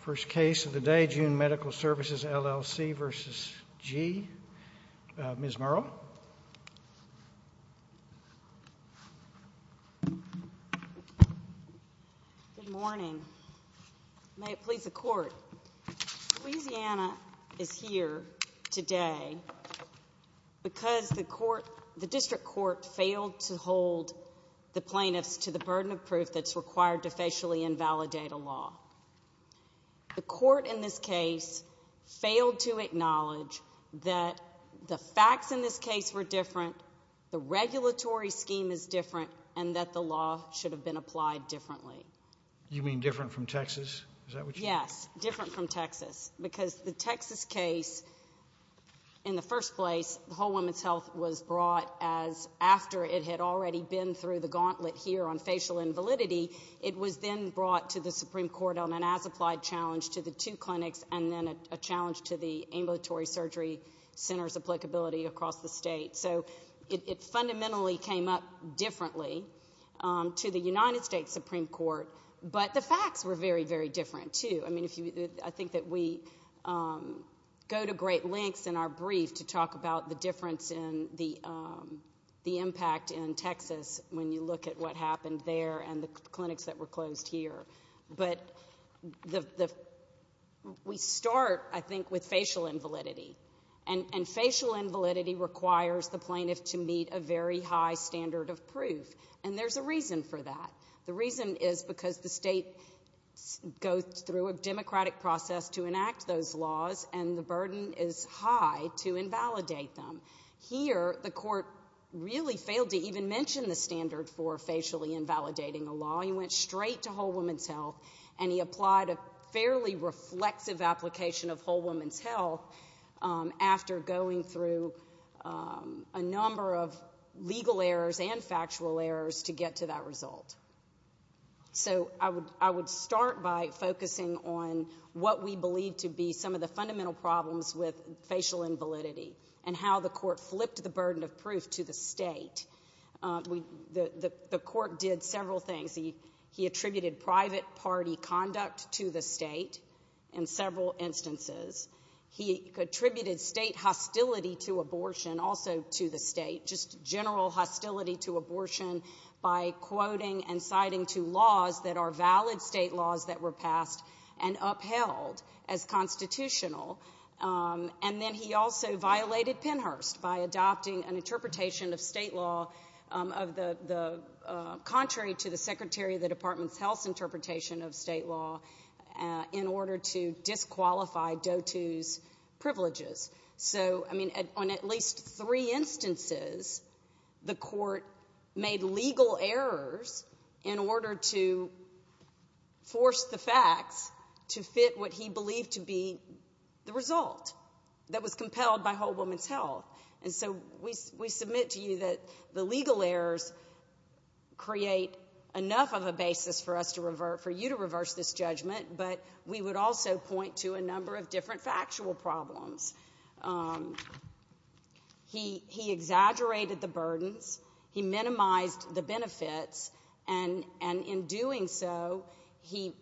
First case of the day, June Medical Services, L.L.C. v. G. Ms. Murrow. Good morning. May it please the Court. Louisiana is here today because the District Court failed to hold the plaintiffs to the burden of proof that's required to facially invalidate a law. The Court in this case failed to acknowledge that the facts in this case were different, the regulatory scheme is different, and that the law should have been applied differently. You mean different from Texas? Is that what you mean? Yes, different from Texas, because the Texas case, in the first place, Whole Woman's Health was brought after it had already been through the gauntlet here on facial invalidity. It was then brought to the Supreme Court on an as-applied challenge to the two clinics and then a challenge to the ambulatory surgery center's applicability across the state. So it fundamentally came up differently to the United States Supreme Court, but the facts were very, very different, too. I think that we go to great lengths in our brief to talk about the difference in the impact in Texas when you look at what happened there and the clinics that were closed here. But we start, I think, with facial invalidity, and facial invalidity requires the plaintiff to meet a very high standard of proof, and there's a reason for that. The reason is because the state goes through a democratic process to enact those laws, and the burden is high to invalidate them. Here, the court really failed to even mention the standard for facially invalidating a law. He went straight to Whole Woman's Health, and he applied a fairly reflexive application of Whole Woman's Health after going through a number of legal errors and factual errors to get to that result. So I would start by focusing on what we believe to be some of the fundamental problems with facial invalidity and how the court flipped the burden of proof to the state. The court did several things. He attributed private party conduct to the state in several instances. He attributed state hostility to abortion also to the state, just general hostility to abortion by quoting and citing two laws that are valid state laws that were passed and upheld as constitutional. And then he also violated Pennhurst by adopting an interpretation of state law, contrary to the Secretary of the Department's health interpretation of state law, in order to disqualify DOTU's privileges. So, I mean, on at least three instances, the court made legal errors in order to force the facts to fit what he believed to be the result that was compelled by Whole Woman's Health. And so we submit to you that the legal errors create enough of a basis for you to reverse this judgment, but we would also point to a number of different factual problems. He exaggerated the burdens. He minimized the benefits. And in doing so, he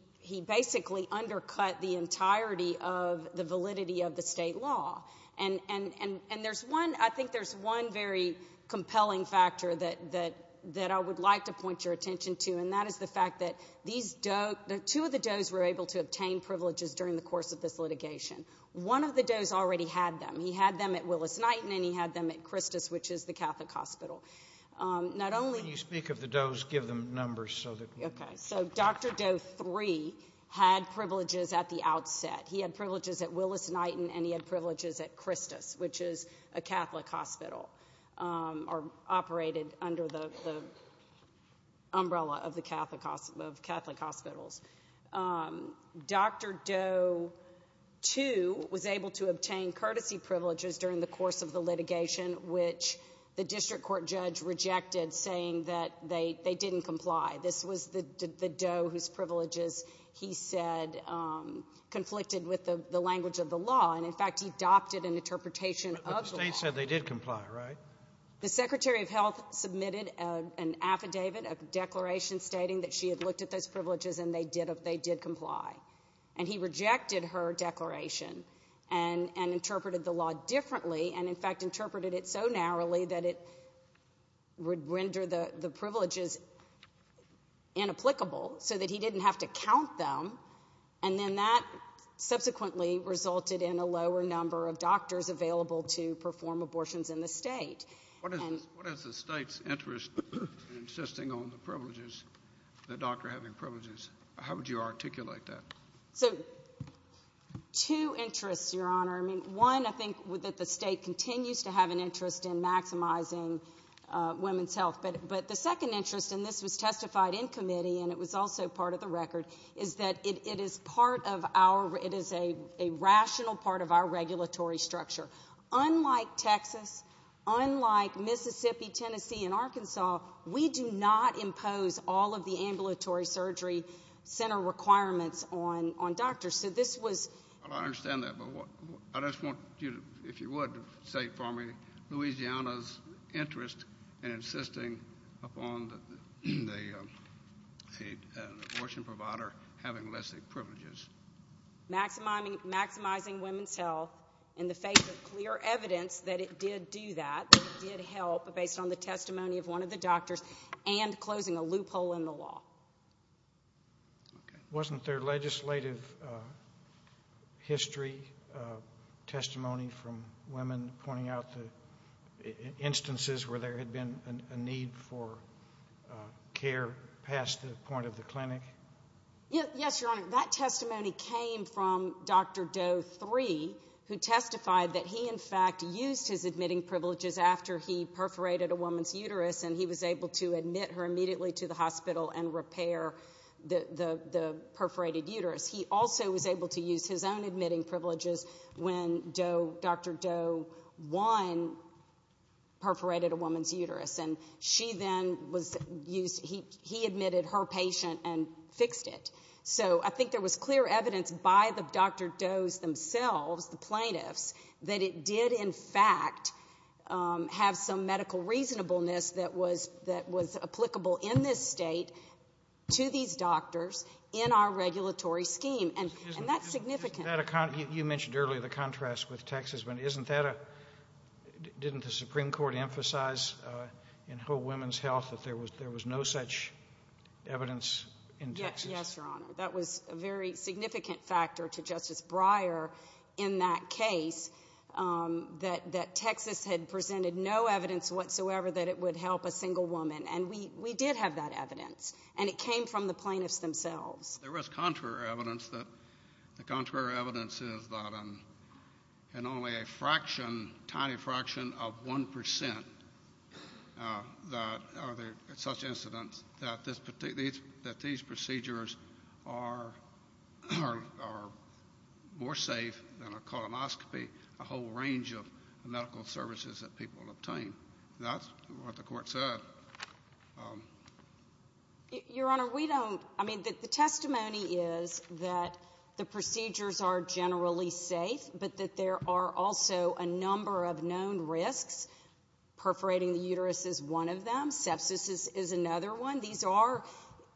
basically undercut the entirety of the validity of the state law. And I think there's one very compelling factor that I would like to point your attention to, and that is the fact that two of the Doe's were able to obtain privileges during the course of this litigation. One of the Doe's already had them. He had them at Willis-Knighton and he had them at Christus, which is the Catholic hospital. When you speak of the Doe's, give them numbers so that we know. Okay. So Dr. Doe 3 had privileges at the outset. He had privileges at Willis-Knighton and he had privileges at Christus, which is a Catholic hospital or operated under the umbrella of Catholic hospitals. Dr. Doe 2 was able to obtain courtesy privileges during the course of the litigation, which the district court judge rejected, saying that they didn't comply. This was the Doe whose privileges he said conflicted with the language of the law. And, in fact, he adopted an interpretation of the law. But the state said they did comply, right? The Secretary of Health submitted an affidavit, a declaration, stating that she had looked at those privileges and they did comply. And he rejected her declaration and interpreted the law differently and, in fact, interpreted it so narrowly that it would render the privileges inapplicable so that he didn't have to count them. And then that subsequently resulted in a lower number of doctors available to perform abortions in the state. What is the state's interest in insisting on the doctor having privileges? How would you articulate that? So two interests, Your Honor. I mean, one, I think that the state continues to have an interest in maximizing women's health. But the second interest, and this was testified in committee and it was also part of the record, is that it is a rational part of our regulatory structure. Unlike Texas, unlike Mississippi, Tennessee, and Arkansas, we do not impose all of the ambulatory surgery center requirements on doctors. I understand that, but I just want you, if you would, to state for me Louisiana's interest in insisting upon the abortion provider having less privileges. Maximizing women's health in the face of clear evidence that it did do that, that it did help based on the testimony of one of the doctors and closing a loophole in the law. Wasn't there legislative history, testimony from women pointing out the instances where there had been a need for care past the point of the clinic? Yes, Your Honor. That testimony came from Dr. Doe III, who testified that he, in fact, used his admitting privileges after he perforated a woman's uterus, and he was able to admit her immediately to the hospital and repair the perforated uterus. He also was able to use his own admitting privileges when Dr. Doe I perforated a woman's uterus, and she then was used, he admitted her patient and fixed it. So I think there was clear evidence by the Dr. Doe's themselves, the plaintiffs, that it did, in fact, have some medical reasonableness that was applicable in this State to these doctors in our regulatory scheme, and that's significant. You mentioned earlier the contrast with Texas, but didn't the Supreme Court emphasize in whole women's health that there was no such evidence in Texas? Yes, Your Honor. That was a very significant factor to Justice Breyer in that case, that Texas had presented no evidence whatsoever that it would help a single woman, and we did have that evidence, and it came from the plaintiffs themselves. There was contrary evidence that the contrary evidence is that in only a fraction, a tiny fraction of 1 percent, are there such incidents, that these procedures are more safe than a colonoscopy, a whole range of medical services that people obtain. That's what the Court said. Your Honor, we don't, I mean, the testimony is that the procedures are generally safe, but that there are also a number of known risks. Perforating the uterus is one of them. Sepsis is another one. These are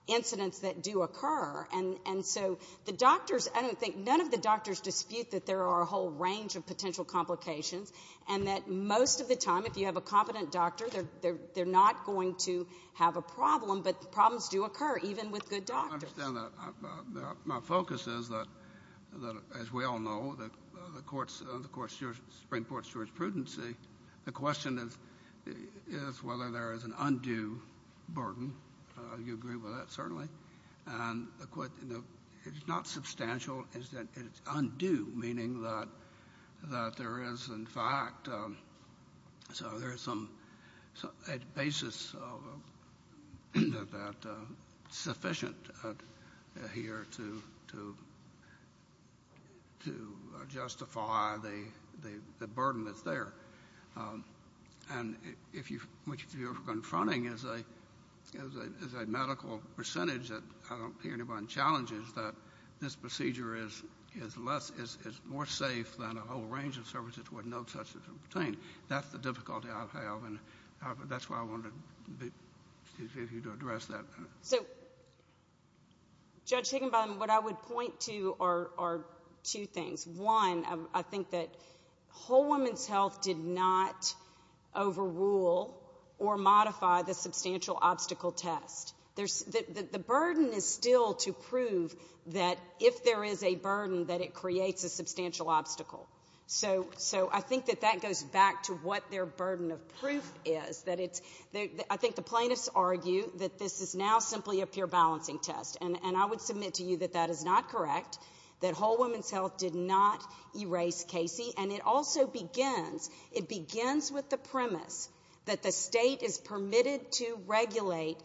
incidents that do occur, and so the doctors, I don't think, none of the doctors dispute that there are a whole range of potential complications and that most of the time, if you have a competent doctor, they're not going to have a problem, but problems do occur, even with good doctors. I understand that. My focus is that, as we all know, the Supreme Court's jurisprudency, the question is whether there is an undue burden. You agree with that, certainly. And it's not substantial. It's undue, meaning that there is, in fact, so there is a basis of that sufficient here to justify the burden that's there. And what you're confronting is a medical percentage that I don't hear anyone challenge is that this procedure is less, is more safe than a whole range of services where no touch is obtained. That's the difficulty I have, and that's why I wanted you to address that. So, Judge Higginbotham, what I would point to are two things. One, I think that Whole Woman's Health did not overrule or modify the substantial obstacle test. The burden is still to prove that if there is a burden, that it creates a substantial obstacle. So I think that that goes back to what their burden of proof is. I think the plaintiffs argue that this is now simply a pure balancing test, and I would submit to you that that is not correct, that Whole Woman's Health did not erase Casey, and it also begins with the premise that the state is permitted to regulate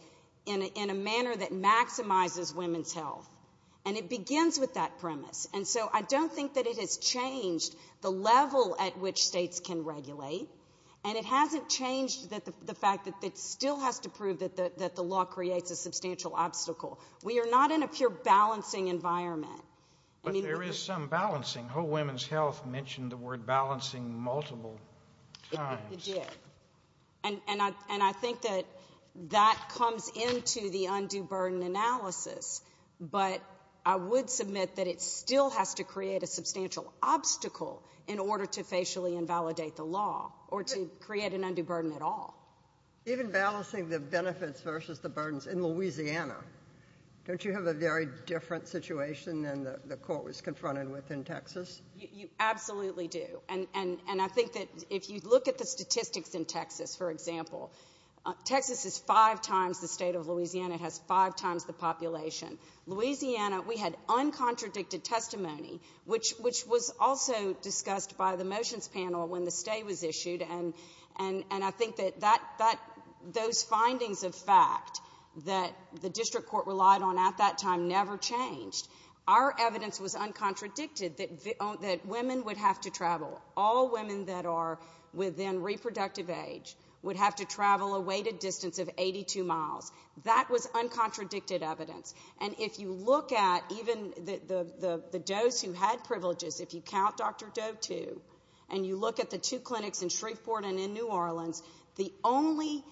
in a manner that maximizes women's health, and it begins with that premise. And so I don't think that it has changed the level at which states can regulate, and it hasn't changed the fact that it still has to prove that the law creates a substantial obstacle. We are not in a pure balancing environment. But there is some balancing. Whole Woman's Health mentioned the word balancing multiple times. And I think that that comes into the undue burden analysis, but I would submit that it still has to create a substantial obstacle in order to facially invalidate the law or to create an undue burden at all. Even balancing the benefits versus the burdens in Louisiana, don't you have a very different situation than the court was confronted with in Texas? You absolutely do. And I think that if you look at the statistics in Texas, for example, Texas is five times the state of Louisiana. It has five times the population. Louisiana, we had uncontradicted testimony, which was also discussed by the motions panel when the stay was issued, and I think that those findings of fact that the district court relied on at that time never changed. Our evidence was uncontradicted that women would have to travel. All women that are within reproductive age would have to travel a weighted distance of 82 miles. That was uncontradicted evidence. And if you look at even the does who had privileges, if you count Dr. Doe, too, and you look at the two clinics in Shreveport and in New Orleans, the only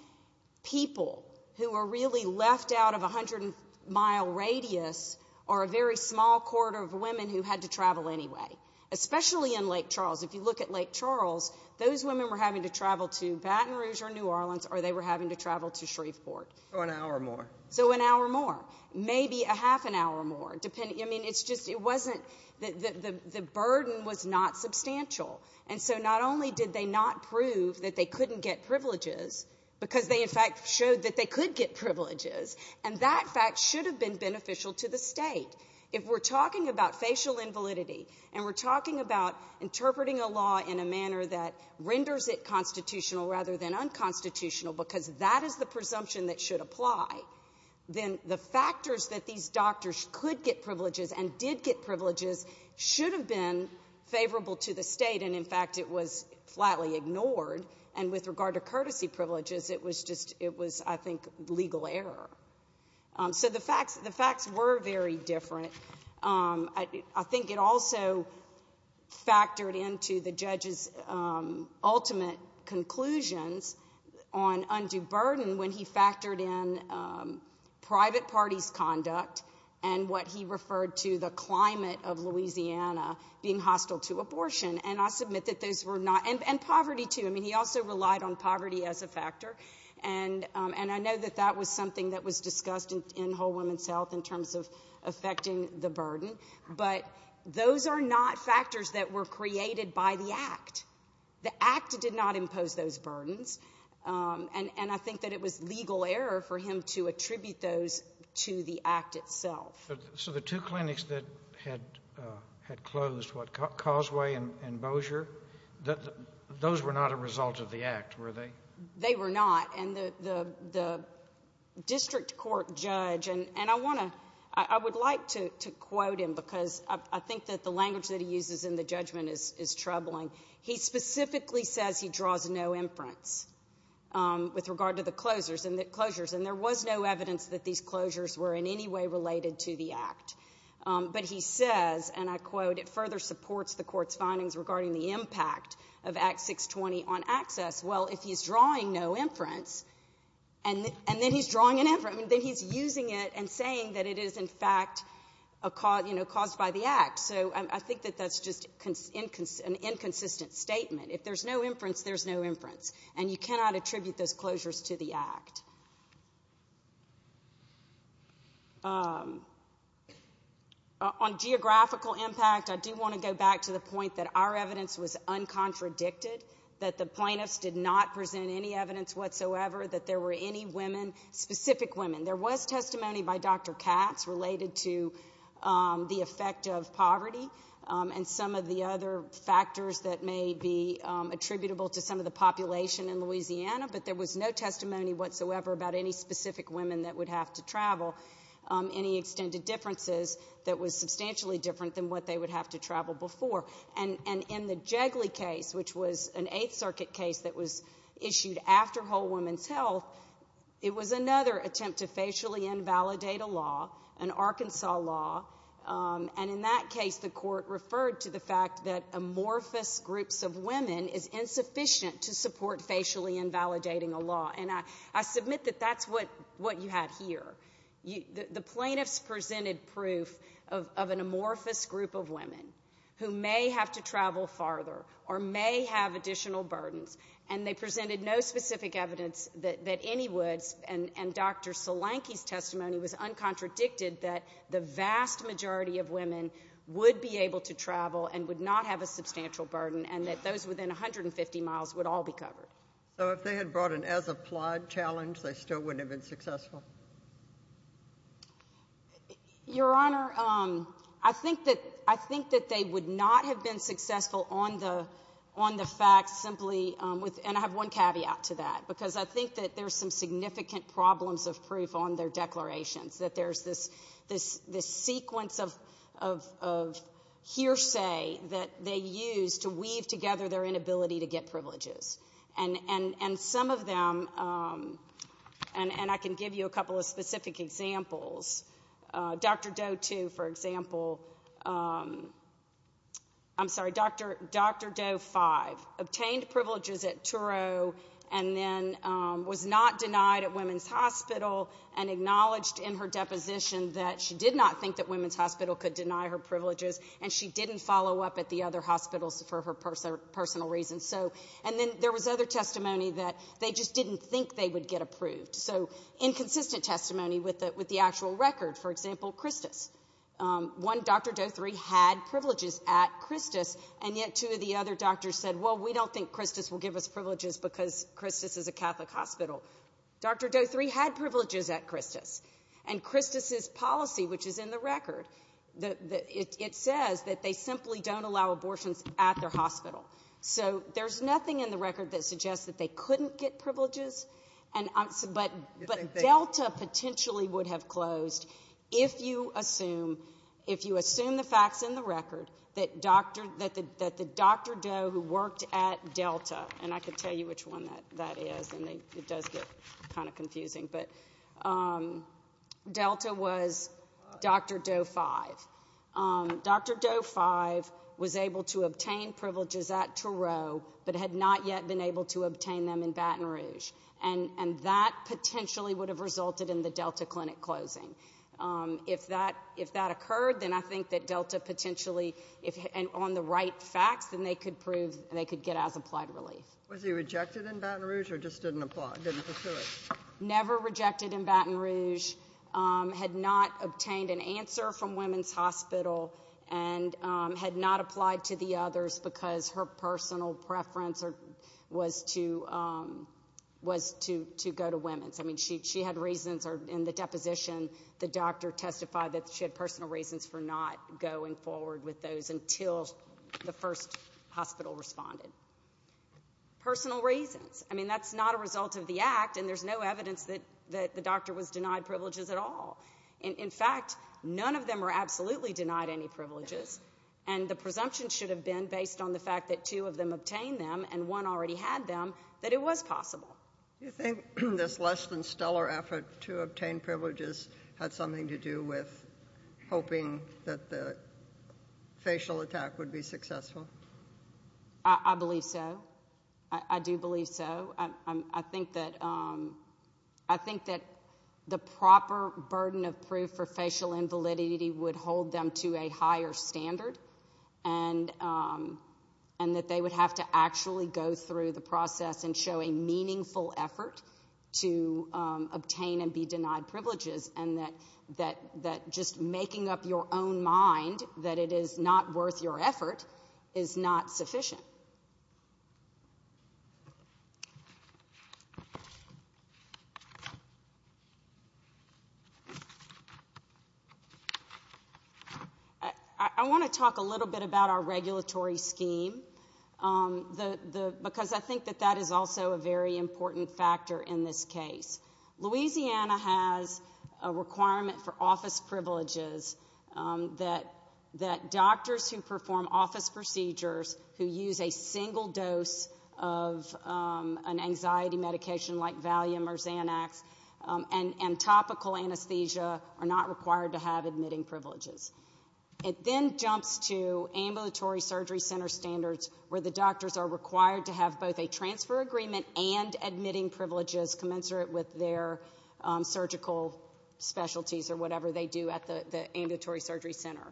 people who were really left out of a hundred-mile radius are a very small quarter of women who had to travel anyway, especially in Lake Charles. If you look at Lake Charles, those women were having to travel to Baton Rouge or New Orleans, or they were having to travel to Shreveport. So an hour more. So an hour more, maybe a half an hour more. I mean, it's just it wasn't the burden was not substantial. And so not only did they not prove that they couldn't get privileges because they, in fact, showed that they could get privileges, and that fact should have been beneficial to the State. If we're talking about facial invalidity and we're talking about interpreting a law in a manner that renders it constitutional rather than unconstitutional because that is the presumption that should apply, then the factors that these doctors could get privileges and did get privileges should have been favorable to the State, and, in fact, it was flatly ignored. And with regard to courtesy privileges, it was, I think, legal error. So the facts were very different. I think it also factored into the judge's ultimate conclusions on undue burden and what he referred to the climate of Louisiana being hostile to abortion. And I submit that those were not, and poverty, too. I mean, he also relied on poverty as a factor, and I know that that was something that was discussed in Whole Woman's Health in terms of affecting the burden. But those are not factors that were created by the Act. The Act did not impose those burdens, and I think that it was legal error for him to attribute those to the Act itself. So the two clinics that had closed, what, Causeway and Bossier, those were not a result of the Act, were they? They were not. And the district court judge, and I would like to quote him because I think that the language that he uses in the judgment is troubling. He specifically says he draws no inference with regard to the closures, and there was no evidence that these closures were in any way related to the Act. But he says, and I quote, it further supports the court's findings regarding the impact of Act 620 on access. Well, if he's drawing no inference, and then he's drawing an inference, then he's using it and saying that it is, in fact, caused by the Act. So I think that that's just an inconsistent statement. If there's no inference, there's no inference, and you cannot attribute those closures to the Act. On geographical impact, I do want to go back to the point that our evidence was uncontradicted, that the plaintiffs did not present any evidence whatsoever, that there were any women, specific women. There was testimony by Dr. Katz related to the effect of poverty and some of the other factors that may be attributable to some of the population in Louisiana, but there was no testimony whatsoever about any specific women that would have to travel, any extended differences that was substantially different than what they would have to travel before. And in the Jigley case, which was an Eighth Circuit case that was issued after Whole Woman's Health, it was another attempt to facially invalidate a law, an Arkansas law, and in that case the court referred to the fact that amorphous groups of women is insufficient to support facially invalidating a law. And I submit that that's what you had here. The plaintiffs presented proof of an amorphous group of women who may have to travel farther or may have additional burdens, and they presented no specific evidence that any would, and Dr. Solanke's testimony was uncontradicted that the vast majority of women would be able to travel and would not have a substantial burden and that those within 150 miles would all be covered. So if they had brought an as-applied challenge, they still wouldn't have been successful? Your Honor, I think that they would not have been successful on the fact simply with, and I have one caveat to that, because I think that there's some significant problems of proof on their declarations, that there's this sequence of hearsay that they use to weave together their inability to get privileges. And some of them, and I can give you a couple of specific examples. Dr. Doe, too, for example. I'm sorry, Dr. Doe 5 obtained privileges at Turo and then was not denied at Women's Hospital and acknowledged in her deposition that she did not think that Women's Hospital could deny her privileges, and she didn't follow up at the other hospitals for her personal reasons. And then there was other testimony that they just didn't think they would get approved. So inconsistent testimony with the actual record. For example, Christos. One Dr. Doe 3 had privileges at Christos, and yet two of the other doctors said, well, we don't think Christos will give us privileges because Christos is a Catholic hospital. Dr. Doe 3 had privileges at Christos, and Christos's policy, which is in the record, it says that they simply don't allow abortions at their hospital. So there's nothing in the record that suggests that they couldn't get privileges, but Delta potentially would have closed if you assume the facts in the record that the Dr. Doe who worked at Delta, and I could tell you which one that is, and it does get kind of confusing, but Delta was Dr. Doe 5. Dr. Doe 5 was able to obtain privileges at Turo but had not yet been able to obtain them in Baton Rouge, and that potentially would have resulted in the Delta clinic closing. If that occurred, then I think that Delta potentially, on the right facts, then they could get as applied relief. Was he rejected in Baton Rouge or just didn't pursue it? Never rejected in Baton Rouge. Had not obtained an answer from women's hospital and had not applied to the others because her personal preference was to go to women's. I mean, she had reasons, or in the deposition, the doctor testified that she had personal reasons for not going forward with those until the first hospital responded. Personal reasons. I mean, that's not a result of the act, and there's no evidence that the doctor In fact, none of them were absolutely denied any privileges, and the presumption should have been, based on the fact that two of them obtained them and one already had them, that it was possible. Do you think this less-than-stellar effort to obtain privileges had something to do with hoping that the facial attack would be successful? I believe so. I do believe so. I think that the proper burden of proof for facial invalidity would hold them to a higher standard and that they would have to actually go through the process and show a meaningful effort to obtain and be denied privileges and that just making up your own mind that it is not worth your effort is not sufficient. I want to talk a little bit about our regulatory scheme because I think that that is also a very important factor in this case. Louisiana has a requirement for office privileges that doctors who perform office procedures who use a single dose of an anxiety medication like Valium or Xanax and topical anesthesia are not required to have admitting privileges. It then jumps to ambulatory surgery center standards where the doctors are required to have both a transfer agreement and admitting privileges commensurate with their surgical specialties or whatever they do at the ambulatory surgery center.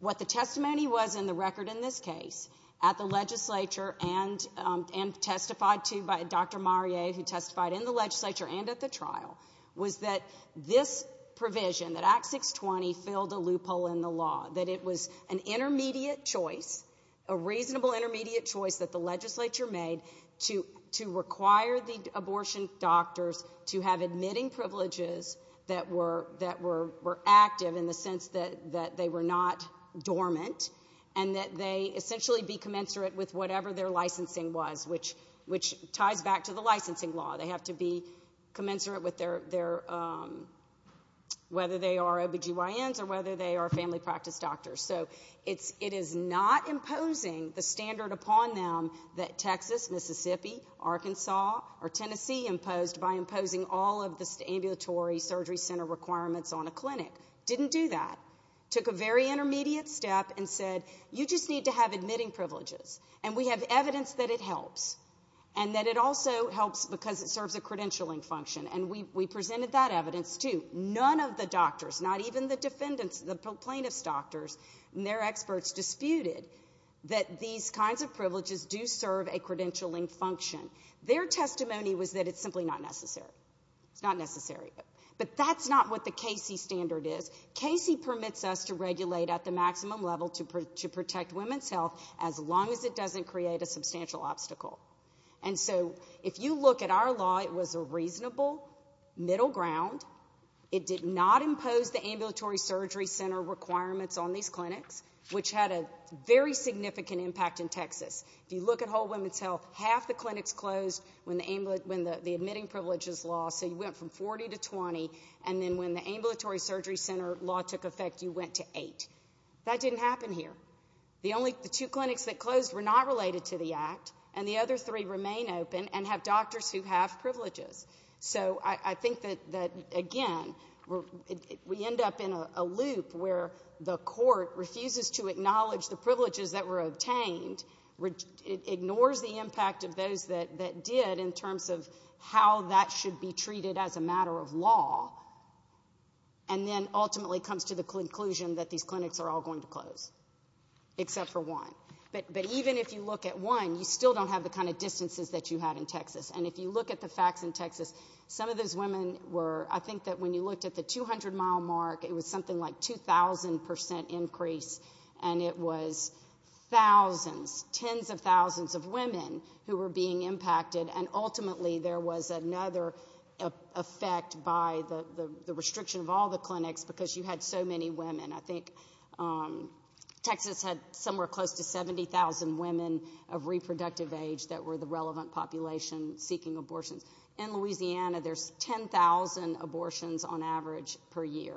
What the testimony was in the record in this case at the legislature and testified to by Dr. Mariette, who testified in the legislature and at the trial, was that this provision, that Act 620, filled a loophole in the law, that it was an intermediate choice, a reasonable intermediate choice that the legislature made to require the abortion doctors to have admitting privileges that were active in the sense that they were not dormant and that they essentially be commensurate with whatever their licensing was, which ties back to the licensing law. They have to be commensurate with their... whether they are OBGYNs or whether they are family practice doctors. So it is not imposing the standard upon them that Texas, Mississippi, Arkansas, or Tennessee imposed by imposing all of the ambulatory surgery center requirements on a clinic. Didn't do that. Took a very intermediate step and said, you just need to have admitting privileges. And we have evidence that it helps and that it also helps because it serves a credentialing function. And we presented that evidence, too. None of the doctors, not even the defendants, the plaintiff's doctors and their experts, disputed that these kinds of privileges do serve a credentialing function. Their testimony was that it's simply not necessary. It's not necessary. But that's not what the Casey standard is. Casey permits us to regulate at the maximum level to protect women's health as long as it doesn't create a substantial obstacle. And so if you look at our law, it was a reasonable middle ground. It did not impose the ambulatory surgery center requirements on these clinics, which had a very significant impact in Texas. If you look at whole women's health, half the clinics closed when the admitting privileges law. So you went from 40 to 20. And then when the ambulatory surgery center law took effect, you went to 8. That didn't happen here. The two clinics that closed were not related to the act, and the other three remain open and have doctors who have privileges. So I think that, again, we end up in a loop where the court refuses to acknowledge the privileges that were obtained, ignores the impact of those that did in terms of how that should be treated as a matter of law, and then ultimately comes to the conclusion that these clinics are all going to close, except for one. But even if you look at one, you still don't have the kind of distances that you had in Texas. And if you look at the facts in Texas, some of those women were, I think, that when you looked at the 200-mile mark, it was something like 2,000% increase, and it was thousands, tens of thousands of women who were being impacted, and ultimately there was another effect by the restriction of all the clinics because you had so many women. I think Texas had somewhere close to 70,000 women of reproductive age that were the relevant population seeking abortions. In Louisiana, there's 10,000 abortions on average per year.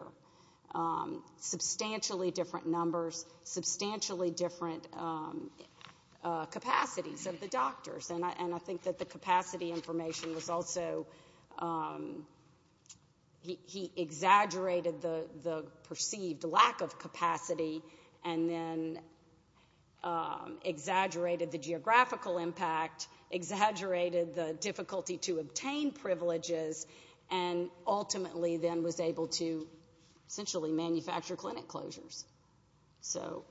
Substantially different numbers, substantially different capacities of the doctors, and I think that the capacity information was also... He exaggerated the perceived lack of capacity and then exaggerated the geographical impact, exaggerated the difficulty to obtain privileges, and ultimately then was able to essentially manufacture clinic closures. So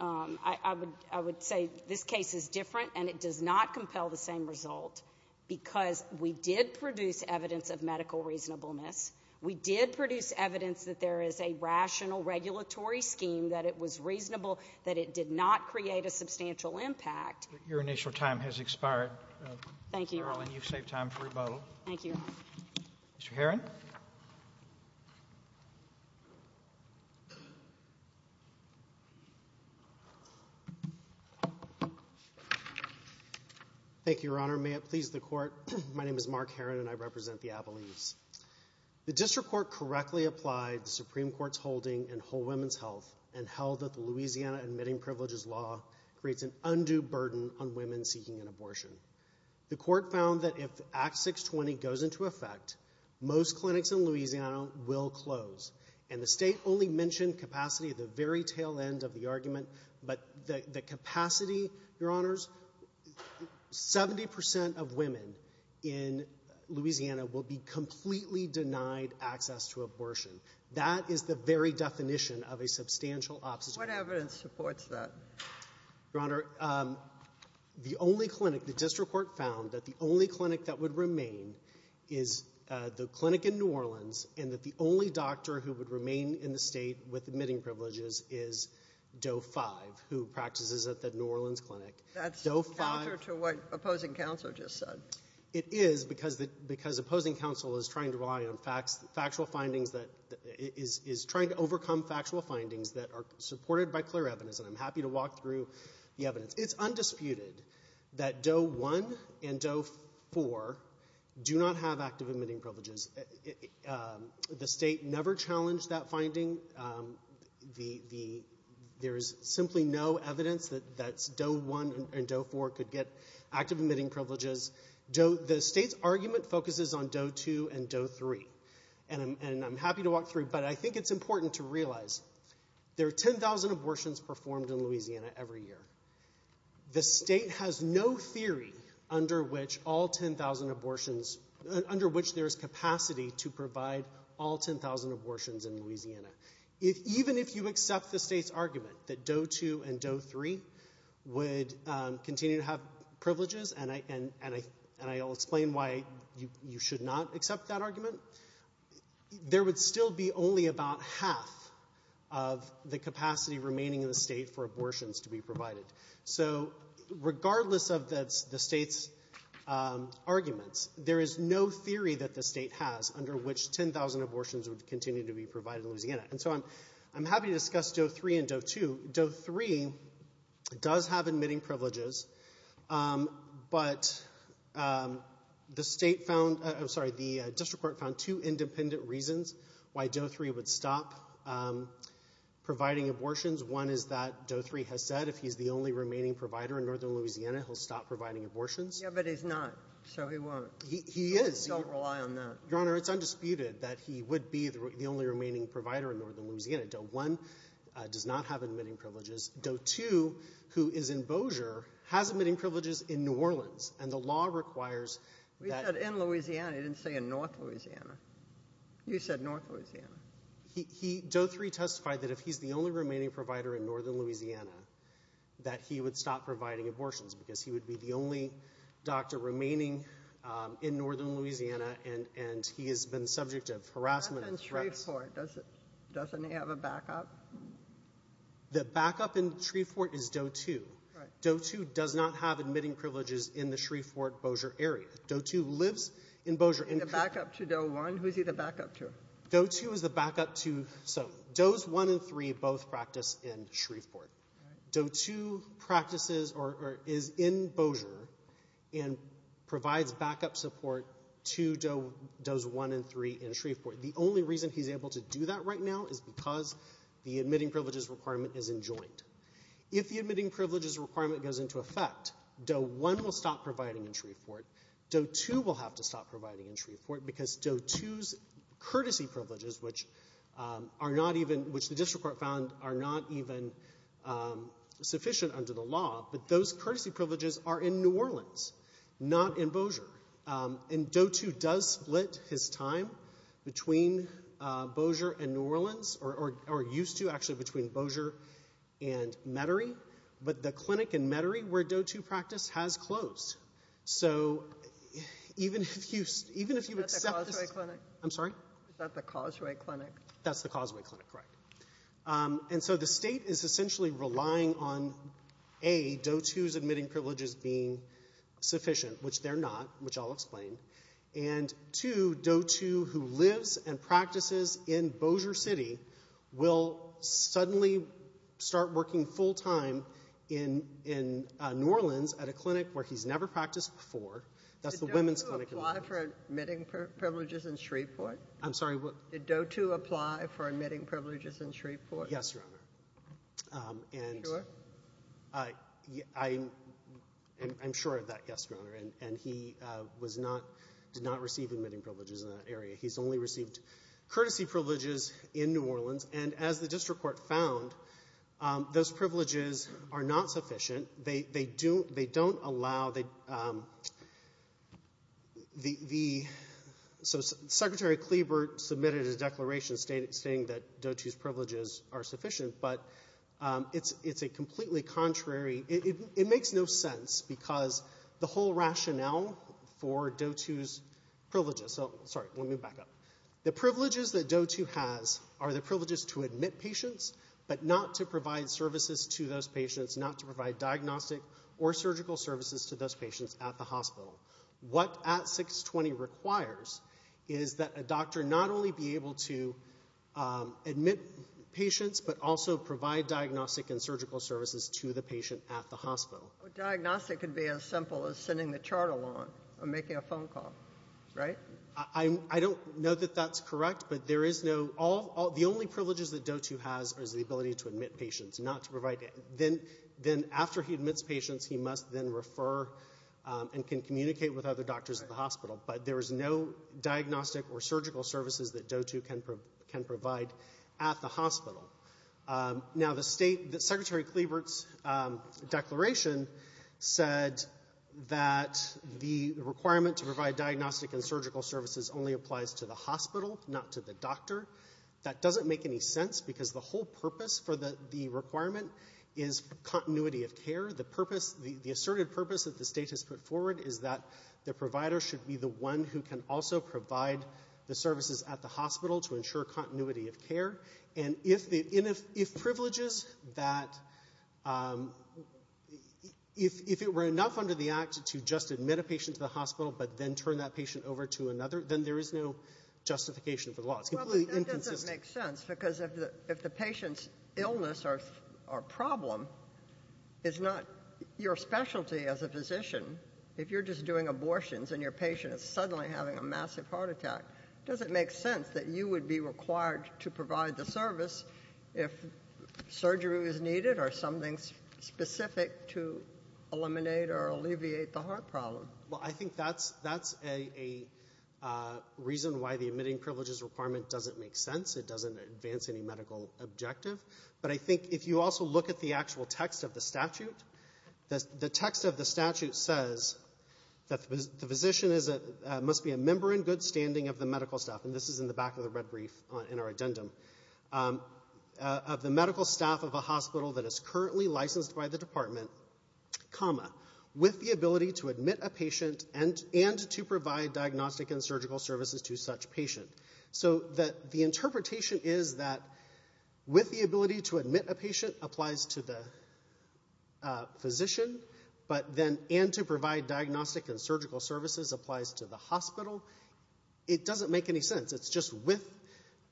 I would say this case is different, and it does not compel the same result because we did produce evidence of medical reasonableness. We did produce evidence that there is a rational regulatory scheme, that it was reasonable, that it did not create a substantial impact. Your initial time has expired. Thank you. You've saved time for rebuttal. Thank you. Mr. Heron? Mr. Heron? Thank you, Your Honor. May it please the Court. My name is Mark Heron, and I represent the Appalachians. The district court correctly applied the Supreme Court's holding in whole women's health and held that the Louisiana admitting privileges law creates an undue burden on women seeking an abortion. The court found that if Act 620 goes into effect, most clinics in Louisiana will close. And the State only mentioned capacity at the very tail end of the argument, but the capacity, Your Honors, 70 percent of women in Louisiana will be completely denied access to abortion. That is the very definition of a substantial obstacle. What evidence supports that? Your Honor, the only clinic, the district court found that the only clinic that would remain is the clinic in New Orleans and that the only doctor who would remain in the State with admitting privileges is Doe 5, who practices at the New Orleans clinic. That's counter to what opposing counsel just said. It is, because opposing counsel is trying to rely on factual findings, is trying to overcome factual findings that are supported by clear evidence, and I'm happy to walk through the evidence. It's undisputed that Doe 1 and Doe 4 do not have active admitting privileges. The State never challenged that finding. There is simply no evidence that Doe 1 and Doe 4 could get active admitting privileges. The State's argument focuses on Doe 2 and Doe 3, and I'm happy to walk through, but I think it's important to realize there are 10,000 abortions performed in Louisiana every year. The State has no theory under which all 10,000 abortions... under which there is capacity to provide all 10,000 abortions in Louisiana. Even if you accept the State's argument that Doe 2 and Doe 3 would continue to have privileges, and I'll explain why you should not accept that argument, there would still be only about half of the capacity remaining in the State for abortions to be provided. So regardless of the State's arguments, there is no theory that the State has under which 10,000 abortions would continue to be provided in Louisiana. And so I'm happy to discuss Doe 3 and Doe 2. Doe 3 does have admitting privileges, but the State found... I'm sorry, the district court found two independent reasons why Doe 3 would stop providing abortions. One is that Doe 3 has said if he's the only remaining provider in northern Louisiana, he'll stop providing abortions. Yeah, but he's not, so he won't. He is. He won't rely on that. Your Honor, it's undisputed that he would be the only remaining provider in northern Louisiana. Doe 1 does not have admitting privileges. Doe 2, who is in Bossier, has admitting privileges in New Orleans, and the law requires that... He said in Louisiana. He didn't say in north Louisiana. You said north Louisiana. Doe 3 testified that if he's the only remaining provider in northern Louisiana, that he would stop providing abortions because he would be the only doctor and he has been subject to harassment and threats. What about Shreveport? Doesn't he have a backup? The backup in Shreveport is Doe 2. Doe 2 does not have admitting privileges in the Shreveport-Bossier area. Doe 2 lives in Bossier. The backup to Doe 1? Who is he the backup to? Doe 2 is the backup to... So Does 1 and 3 both practice in Shreveport. Doe 2 practices or is in Bossier and provides backup support to Does 1 and 3 in Shreveport. The only reason he's able to do that right now is because the admitting privileges requirement is enjoined. If the admitting privileges requirement goes into effect, Doe 1 will stop providing in Shreveport. Doe 2 will have to stop providing in Shreveport because Doe 2's courtesy privileges, which the district court found are not even sufficient under the law, but those courtesy privileges are in New Orleans, not in Bossier. And Doe 2 does split his time between Bossier and New Orleans, or used to, actually, between Bossier and Metairie, but the clinic in Metairie where Doe 2 practiced has closed. So even if you accept this... Is that the Causeway Clinic? I'm sorry? Is that the Causeway Clinic? That's the Causeway Clinic, correct. And so the state is essentially relying on, A, Doe 2's admitting privileges being sufficient, which they're not, which I'll explain, and, 2, Doe 2, who lives and practices in Bossier City, will suddenly start working full-time in New Orleans at a clinic where he's never practiced before. That's the women's clinic in New Orleans. Did Doe 2 apply for admitting privileges in Shreveport? I'm sorry, what? Did Doe 2 apply for admitting privileges in Shreveport? Yes, Your Honor. And... Are you sure? I'm sure of that, yes, Your Honor. And he was not, did not receive admitting privileges in that area. He's only received courtesy privileges in New Orleans. And as the district court found, those privileges are not sufficient. They don't allow the... So Secretary Klebert submitted a declaration stating that Doe 2's privileges are sufficient, but it's a completely contrary... It makes no sense, because the whole rationale for Doe 2's privileges... Sorry, let me back up. The privileges that Doe 2 has are the privileges to admit patients, but not to provide services to those patients, not to provide diagnostic or surgical services to those patients at the hospital. What ACT 620 requires is that a doctor not only be able to admit patients, but also provide diagnostic and surgical services to the patient at the hospital. But diagnostic could be as simple as sending the chart along or making a phone call, right? I don't know that that's correct, but there is no... The only privileges that Doe 2 has is the ability to admit patients, not to provide... Then, after he admits patients, he must then refer and can communicate with other doctors at the hospital. But there is no diagnostic or surgical services that Doe 2 can provide at the hospital. Now, the state... Secretary Klebert's declaration said that the requirement to provide diagnostic and surgical services only applies to the hospital, not to the doctor. That doesn't make any sense, because the whole purpose for the requirement is continuity of care. The asserted purpose that the state has put forward is that the provider should be the one who can also provide the services at the hospital to ensure continuity of care. And if privileges that... If it were enough under the Act to just admit a patient to the hospital but then turn that patient over to another, then there is no justification for the law. It's completely inconsistent. It doesn't make sense, because if the patient's illness or problem is not your specialty as a physician, if you're just doing abortions and your patient is suddenly having a massive heart attack, does it make sense that you would be required to provide the service if surgery was needed or something specific to eliminate or alleviate the heart problem? Well, I think that's a reason why the admitting privileges requirement doesn't make sense. It doesn't advance any medical objective. But I think if you also look at the actual text of the statute, the text of the statute says that the physician must be a member in good standing of the medical staff, and this is in the back of the red brief in our addendum, of the medical staff of a hospital that is currently licensed by the department, with the ability to admit a patient and to provide diagnostic and surgical services to such patient. So the interpretation is that with the ability to admit a patient applies to the physician, but then and to provide diagnostic and surgical services applies to the hospital. It doesn't make any sense. It's just with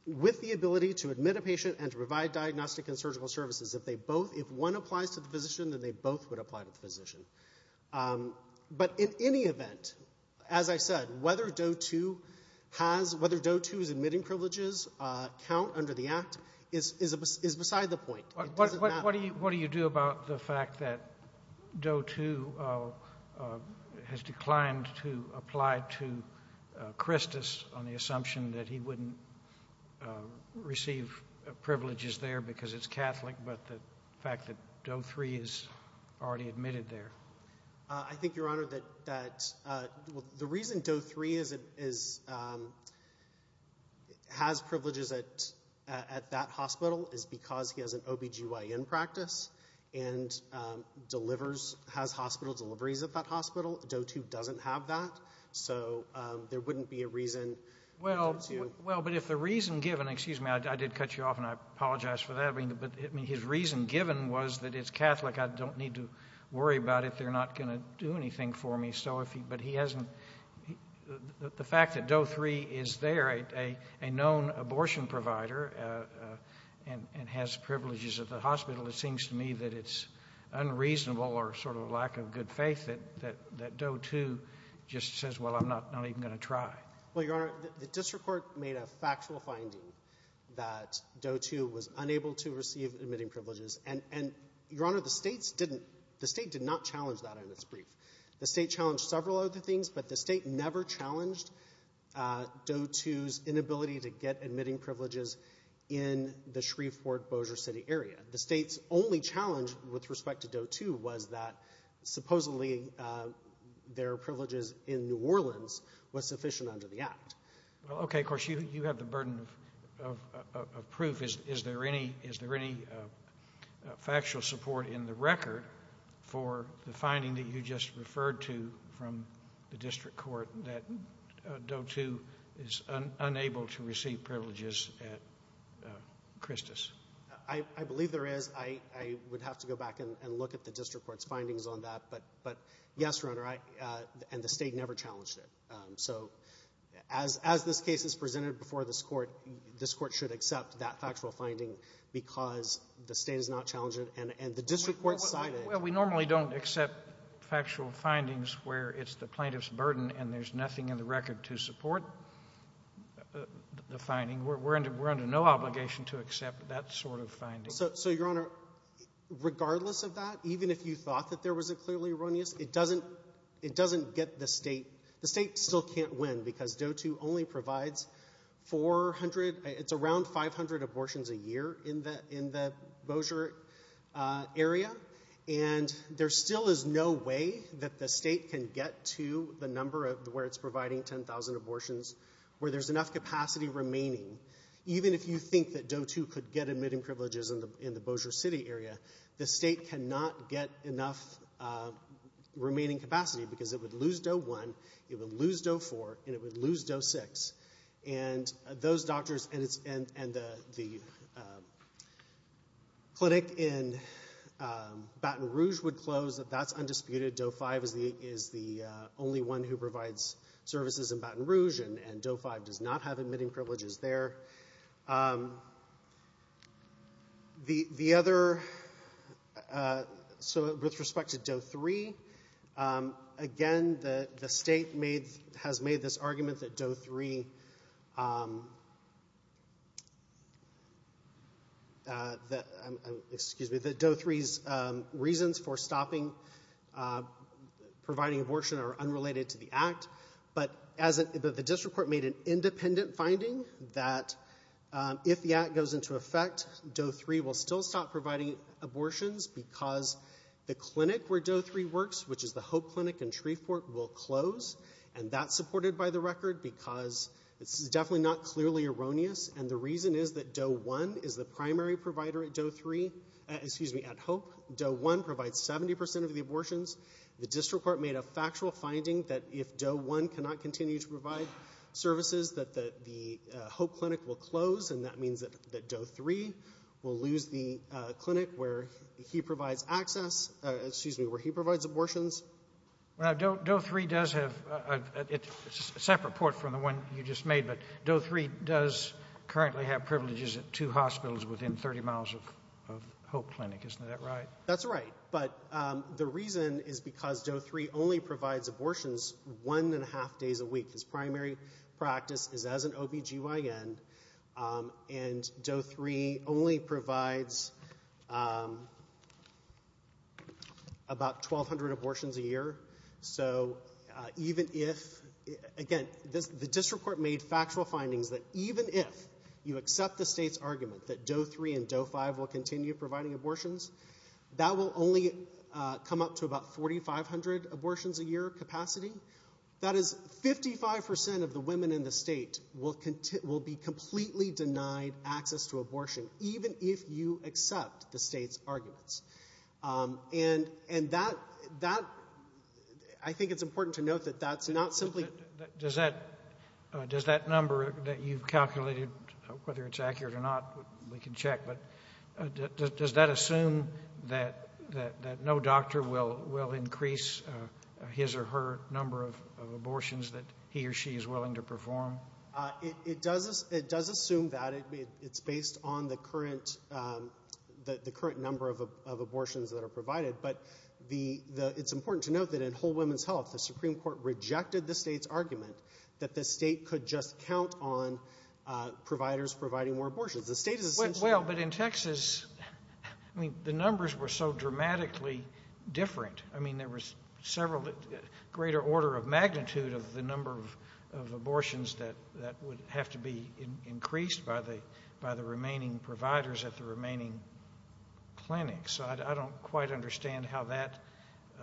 the ability to admit a patient and to provide diagnostic and surgical services, if one applies to the physician, then they both would apply to the physician. But in any event, as I said, whether Doe 2 has... whether Doe 2's admitting privileges count under the Act is beside the point. What do you do about the fact that Doe 2 has declined to apply to Christus on the assumption that he wouldn't receive privileges there because it's Catholic, but the fact that Doe 3 is already admitted there? I think, Your Honor, that... The reason Doe 3 has privileges at that hospital is because he has an OB-GYN practice and has hospital deliveries at that hospital. Doe 2 doesn't have that. So there wouldn't be a reason... Well, but if the reason given... Excuse me, I did cut you off, and I apologize for that. But his reason given was that it's Catholic. I don't need to worry about it. They're not going to do anything for me. But he hasn't... The fact that Doe 3 is there, a known abortion provider, and has privileges at the hospital, it seems to me that it's unreasonable or sort of a lack of good faith that Doe 2 just says, well, I'm not even going to try. Well, Your Honor, the district court made a factual finding that Doe 2 was unable to receive admitting privileges. And, Your Honor, the state didn't... The state did not challenge that in its brief. The state challenged several other things, but the state never challenged Doe 2's inability to get admitting privileges in the Shreveport-Bossier City area. The state's only challenge with respect to Doe 2 was that supposedly their privileges in New Orleans was sufficient under the Act. Well, okay, of course, you have the burden of proof. Is there any factual support in the record for the finding that you just referred to from the district court that Doe 2 is unable to receive privileges at Christus? I believe there is. I would have to go back and look at the district court's findings on that. But, yes, Your Honor, and the state never challenged it. So, as this case is presented before this court, this court should accept that factual finding because the state has not challenged it, and the district court cited... Well, we normally don't accept factual findings where it's the plaintiff's burden and there's nothing in the record to support the finding. We're under no obligation to accept that sort of finding. So, Your Honor, regardless of that, even if you thought that there was a clearly erroneous, it doesn't get the state... The state still can't win because Doe 2 only provides 400... It's around 500 abortions a year in the Bossier area, and there still is no way that the state can get to the number where it's providing 10,000 abortions where there's enough capacity remaining. Even if you think that Doe 2 could get admitting privileges in the Bossier City area, the state cannot get enough remaining capacity because it would lose Doe 1, it would lose Doe 4, and it would lose Doe 6, and those doctors and the clinic in Baton Rouge would close. That's undisputed. Doe 5 is the only one who provides services in Baton Rouge, and Doe 5 does not have admitting privileges there. The other... So, with respect to Doe 3, again, the state has made this argument that Doe 3... Excuse me. That Doe 3's reasons for stopping providing abortion are unrelated to the act, but the district court made an independent finding that if the act goes into effect, Doe 3 will still stop providing abortions because the clinic where Doe 3 works, which is the Hope Clinic in Shreveport, will close, and that's supported by the record because this is definitely not clearly erroneous, and the reason is that Doe 1 is the primary provider at Hope. Doe 1 provides 70% of the abortions. The district court made a factual finding that if Doe 1 cannot continue to provide services that the Hope Clinic will close, and that means that Doe 3 will lose the clinic where he provides access... Excuse me, where he provides abortions. Now, Doe 3 does have... It's a separate port from the one you just made, but Doe 3 does currently have privileges at two hospitals within 30 miles of Hope Clinic. Isn't that right? That's right, but the reason is because Doe 3 only provides abortions one and a half days a week. His primary practice is as an OB-GYN, and Doe 3 only provides... ..about 1,200 abortions a year. So even if... Again, the district court made factual findings that even if you accept the state's argument that Doe 3 and Doe 5 will continue providing abortions, that will only come up to about 4,500 abortions a year capacity. That is, 55% of the women in the state will be completely denied access to abortion, even if you accept the state's arguments. And that... I think it's important to note that that's not simply... Does that number that you've calculated, whether it's accurate or not, we can check, but does that assume that no doctor will increase his or her number of abortions that he or she is willing to perform? It does assume that. It's based on the current number of abortions that are provided, but it's important to note that in Whole Women's Health, the Supreme Court rejected the state's argument that the state could just count on providers providing more abortions. Well, but in Texas, I mean, the numbers were so dramatically different. I mean, there was several... greater order of magnitude of the number of abortions that would have to be increased by the remaining providers at the remaining clinics. So I don't quite understand how that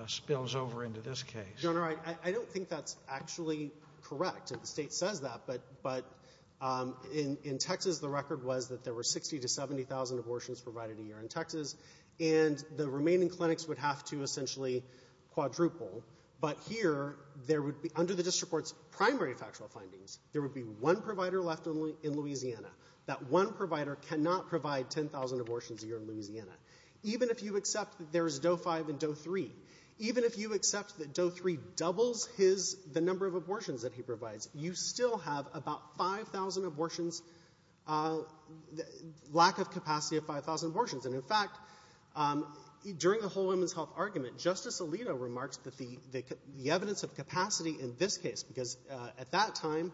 spills over into this case. General, I don't think that's actually correct. The state says that, but in Texas, the record was that there were 60,000 to 70,000 abortions provided a year in Texas, and the remaining clinics would have to essentially quadruple. But here, there would be, under the district court's primary factual findings, there would be one provider left in Louisiana. That one provider cannot provide 10,000 abortions a year in Louisiana. Even if you accept that there is Doe 5 and Doe 3, even if you accept that Doe 3 doubles the number of abortions that he provides, you still have about 5,000 abortions, lack of capacity of 5,000 abortions. And in fact, during the Whole Woman's Health argument, Justice Alito remarks that the evidence of capacity in this case... Because at that time,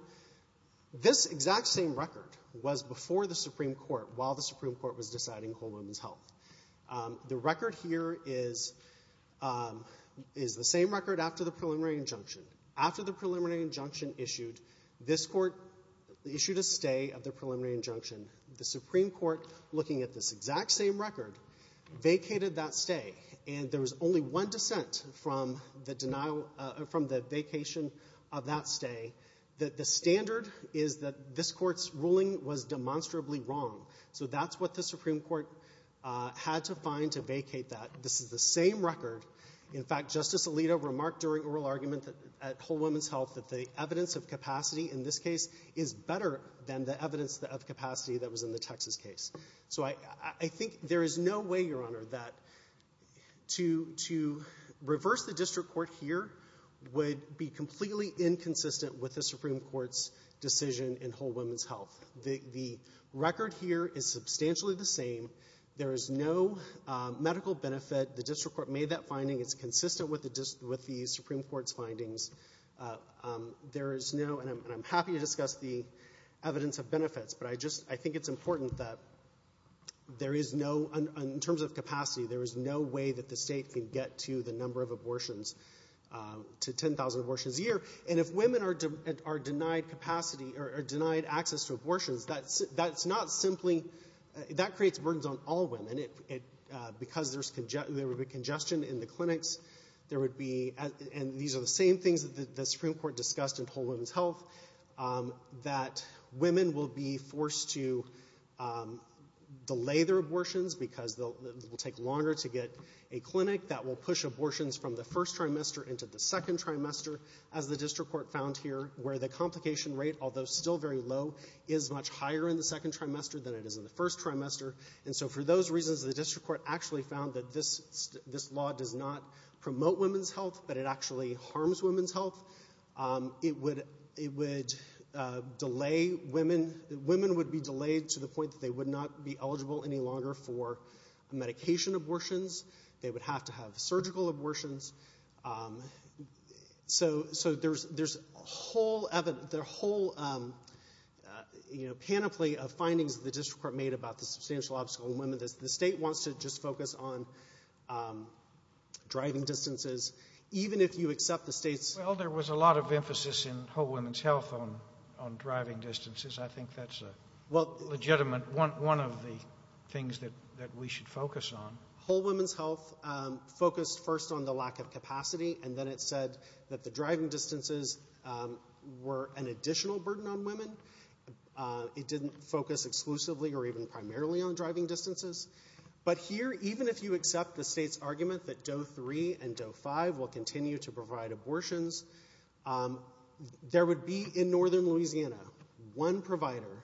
this exact same record was before the Supreme Court while the Supreme Court was deciding Whole Woman's Health. The record here is the same record after the preliminary injunction. After the preliminary injunction issued, this court issued a stay of the preliminary injunction. The Supreme Court, looking at this exact same record, vacated that stay. And there was only one dissent from the denial... from the vacation of that stay, that the standard is that this court's ruling was demonstrably wrong. So that's what the Supreme Court had to find to vacate that. This is the same record. In fact, Justice Alito remarked during oral argument at Whole Woman's Health that the evidence of capacity in this case is better than the evidence of capacity that was in the Texas case. So I think there is no way, Your Honor, that to reverse the district court here would be completely inconsistent with the Supreme Court's decision in Whole Woman's Health. The record here is substantially the same. There is no medical benefit. The district court made that finding. It's consistent with the Supreme Court's findings. There is no... And I'm happy to discuss the evidence of benefits, but I think it's important that there is no... In terms of capacity, there is no way that the state can get to the number of abortions... to 10,000 abortions a year. And if women are denied capacity or are denied access to abortions, that's not simply... That creates burdens on all women. Because there would be congestion in the clinics, there would be... And these are the same things that the Supreme Court discussed in Whole Woman's Health, that women will be forced to delay their abortions because it will take longer to get a clinic that will push abortions from the first trimester into the second trimester, as the district court found here, where the complication rate, although still very low, is much higher in the second trimester than it is in the first trimester. And so for those reasons, the district court actually found that this law does not promote women's health, but it actually harms women's health. It would delay women... Women would be delayed to the point that they would not be eligible any longer for medication abortions. They would have to have surgical abortions. So there's a whole... The whole, you know, panoply of findings that the district court made about the substantial obstacle in women... The state wants to just focus on driving distances even if you accept the state's... Well, there was a lot of emphasis in Whole Woman's Health on driving distances. I think that's a legitimate... Well... One of the things that we should focus on. Whole Woman's Health focused first on the lack of capacity, and then it said that the driving distances were an additional burden on women. It didn't focus exclusively or even primarily on driving distances. But here, even if you accept the state's argument that Doe 3 and Doe 5 will continue to provide abortions, there would be, in northern Louisiana, one provider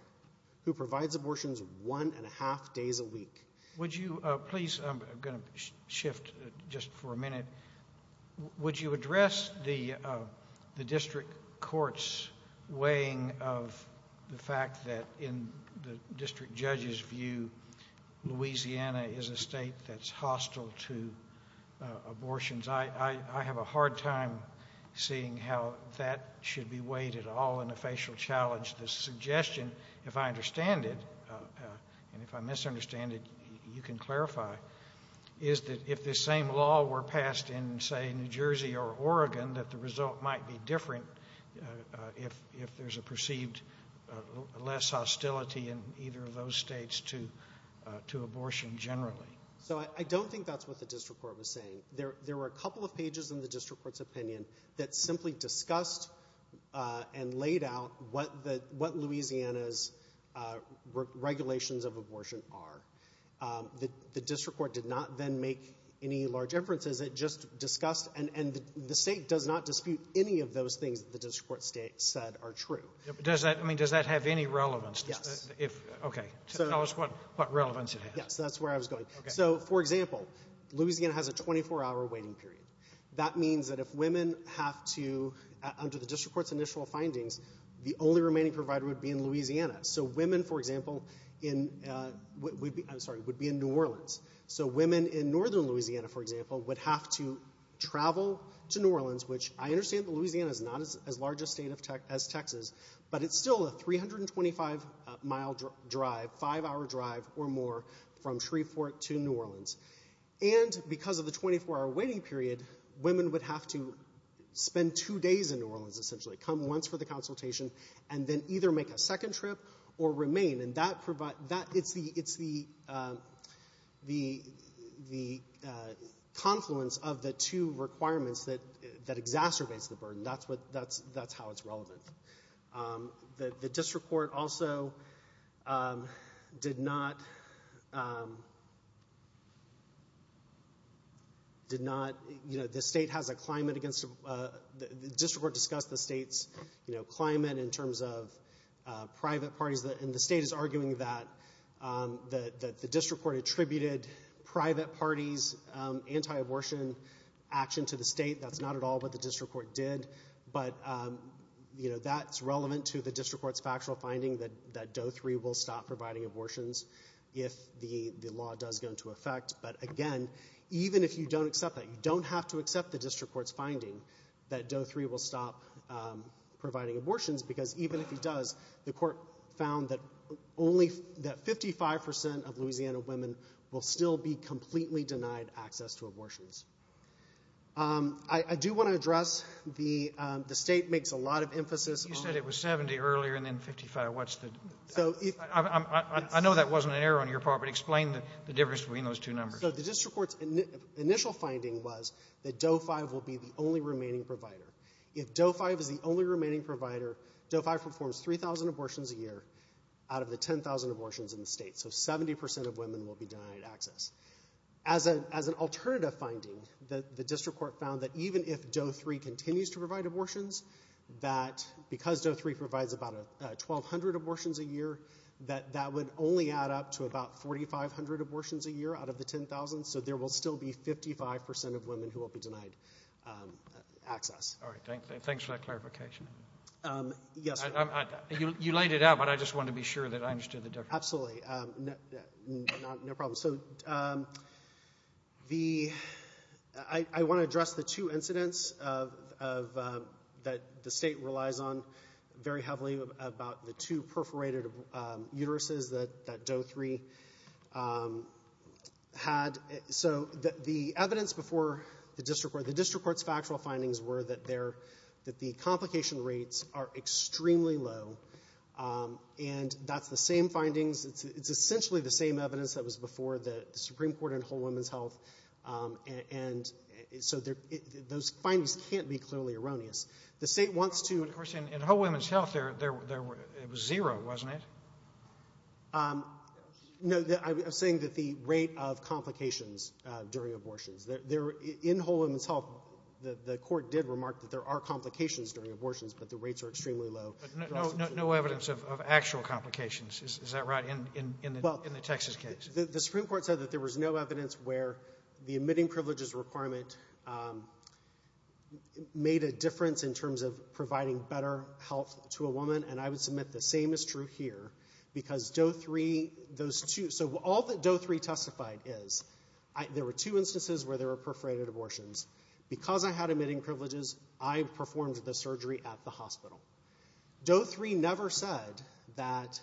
who provides abortions one-and-a-half days a week. Would you please... I'm going to shift just for a minute. Would you address the district court's weighing of the fact that, in the district judge's view, Louisiana is a state that's hostile to abortions? I have a hard time seeing how that should be weighed at all in a facial challenge. The suggestion, if I understand it, and if I misunderstand it, you can clarify, is that if this same law were passed in, say, New Jersey or Oregon, that the result might be different if there's a perceived less hostility in either of those states to abortion generally. So I don't think that's what the district court was saying. There were a couple of pages in the district court's opinion that simply discussed and laid out what Louisiana's regulations of abortion are. The district court did not then make any large inferences. It just discussed... And the state does not dispute any of those things that the district court said are true. Does that have any relevance? Yes. Okay. Tell us what relevance it has. Yes, that's where I was going. So, for example, Louisiana has a 24-hour waiting period. That means that if women have to, under the district court's initial findings, the only remaining provider would be in Louisiana. So women, for example, would be in New Orleans. So women in northern Louisiana, for example, would have to travel to New Orleans, which I understand that Louisiana is not as large a state as Texas, but it's still a 325-mile drive, 5-hour drive or more from Shreveport to New Orleans. And because of the 24-hour waiting period, women would have to spend two days in New Orleans, essentially, come once for the consultation, and then either make a second trip or remain. And that... It's the... That exacerbates the burden. That's how it's relevant. The district court also did not... Did not... You know, the state has a climate against... The district court discussed the state's climate in terms of private parties, and the state is arguing that the district court attributed private parties' anti-abortion action to the state. That's not at all what the district court did. But, you know, that's relevant to the district court's factual finding that Doe 3 will stop providing abortions if the law does go into effect. But, again, even if you don't accept that, you don't have to accept the district court's finding that Doe 3 will stop providing abortions, because even if it does, the court found that only... that 55% of Louisiana women will still be completely denied access to abortions. I do want to address... The state makes a lot of emphasis on... You said it was 70 earlier and then 55. What's the... I know that wasn't an error on your part, but explain the difference between those two numbers. So the district court's initial finding was that Doe 5 will be the only remaining provider. If Doe 5 is the only remaining provider, Doe 5 performs 3,000 abortions a year out of the 10,000 abortions in the state. So 70% of women will be denied access. As an alternative finding, the district court found that even if Doe 3 continues to provide abortions, that because Doe 3 provides about 1,200 abortions a year, that that would only add up to about 4,500 abortions a year out of the 10,000, so there will still be 55% of women who will be denied access. All right, thanks for that clarification. Yes, sir. You laid it out, but I just want to be sure that I understood the difference. Absolutely. No problem. So I want to address the two incidents that the state relies on very heavily about the two perforated uteruses that Doe 3 had. So the evidence before the district court, the district court's factual findings were that the complication rates are extremely low, and that's the same findings. It's essentially the same evidence that was before the Supreme Court in Whole Women's Health, and so those findings can't be clearly erroneous. The state wants to... Of course, in Whole Women's Health, it was zero, wasn't it? No, I'm saying that the rate of complications during abortions. In Whole Women's Health, the court did remark that there are complications during abortions, but the rates are extremely low. But no evidence of actual complications, is that right, in the Texas case? The Supreme Court said that there was no evidence where the admitting privileges requirement made a difference in terms of providing better health to a woman, and I would submit the same is true here, because Doe 3, those two... So all that Doe 3 testified is, there were two instances where there were perforated abortions. Because I had admitting privileges, I performed the surgery at the hospital. Doe 3 never said that...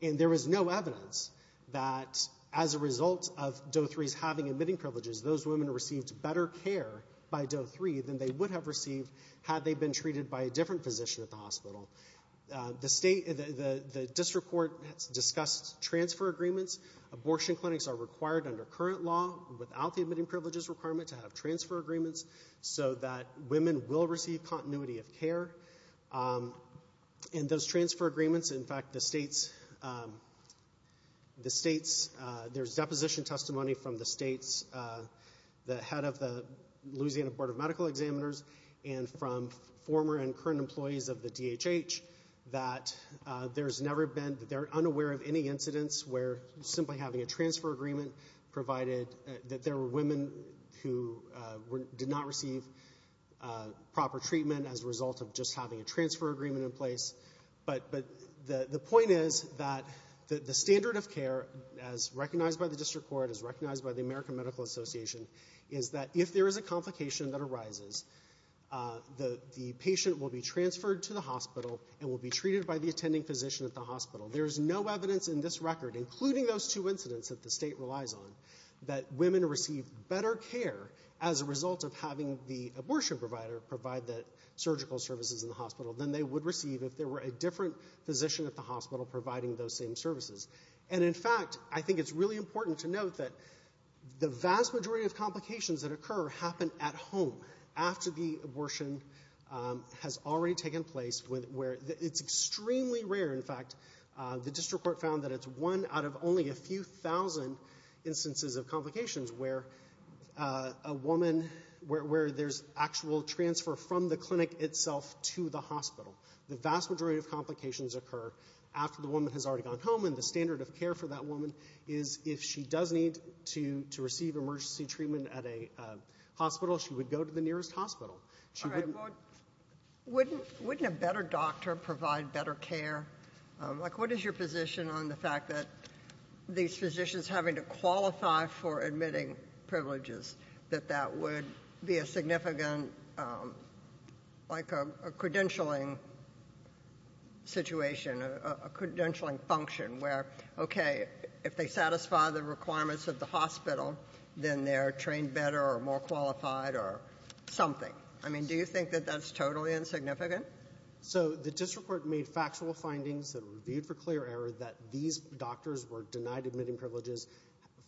And there was no evidence that, as a result of Doe 3's having admitting privileges, those women received better care by Doe 3 than they would have received had they been treated by a different physician at the hospital. The district court discussed transfer agreements. Abortion clinics are required under current law, without the admitting privileges requirement, to have transfer agreements, so that women will receive continuity of care. And those transfer agreements, in fact, the states... There's deposition testimony from the states, the head of the Louisiana Board of Medical Examiners, and from former and current employees of the DHH, that there's never been... They're unaware of any incidents where simply having a transfer agreement provided that there were women who did not receive proper treatment as a result of just having a transfer agreement in place. But the point is that the standard of care, as recognized by the district court, as recognized by the American Medical Association, is that if there is a complication that arises, the patient will be transferred to the hospital and will be treated by the attending physician at the hospital. There is no evidence in this record, including those two incidents that the state relies on, that women receive better care as a result of having the abortion provider provide the surgical services in the hospital than they would receive if there were a different physician at the hospital providing those same services. And, in fact, I think it's really important to note that the vast majority of complications that occur happen at home, after the abortion has already taken place, where it's extremely rare. In fact, the district court found that it's one out of only a few thousand instances of complications where a woman... is transferred from the clinic itself to the hospital. The vast majority of complications occur after the woman has already gone home, and the standard of care for that woman is, if she does need to receive emergency treatment at a hospital, she would go to the nearest hospital. She wouldn't... Wouldn't a better doctor provide better care? Like, what is your position on the fact that these physicians having to qualify for admitting privileges, that that would be a significant... like a credentialing situation, a credentialing function, where, okay, if they satisfy the requirements of the hospital, then they're trained better or more qualified or something. I mean, do you think that that's totally insignificant? So the district court made factual findings that were reviewed for clear error that these doctors were denied admitting privileges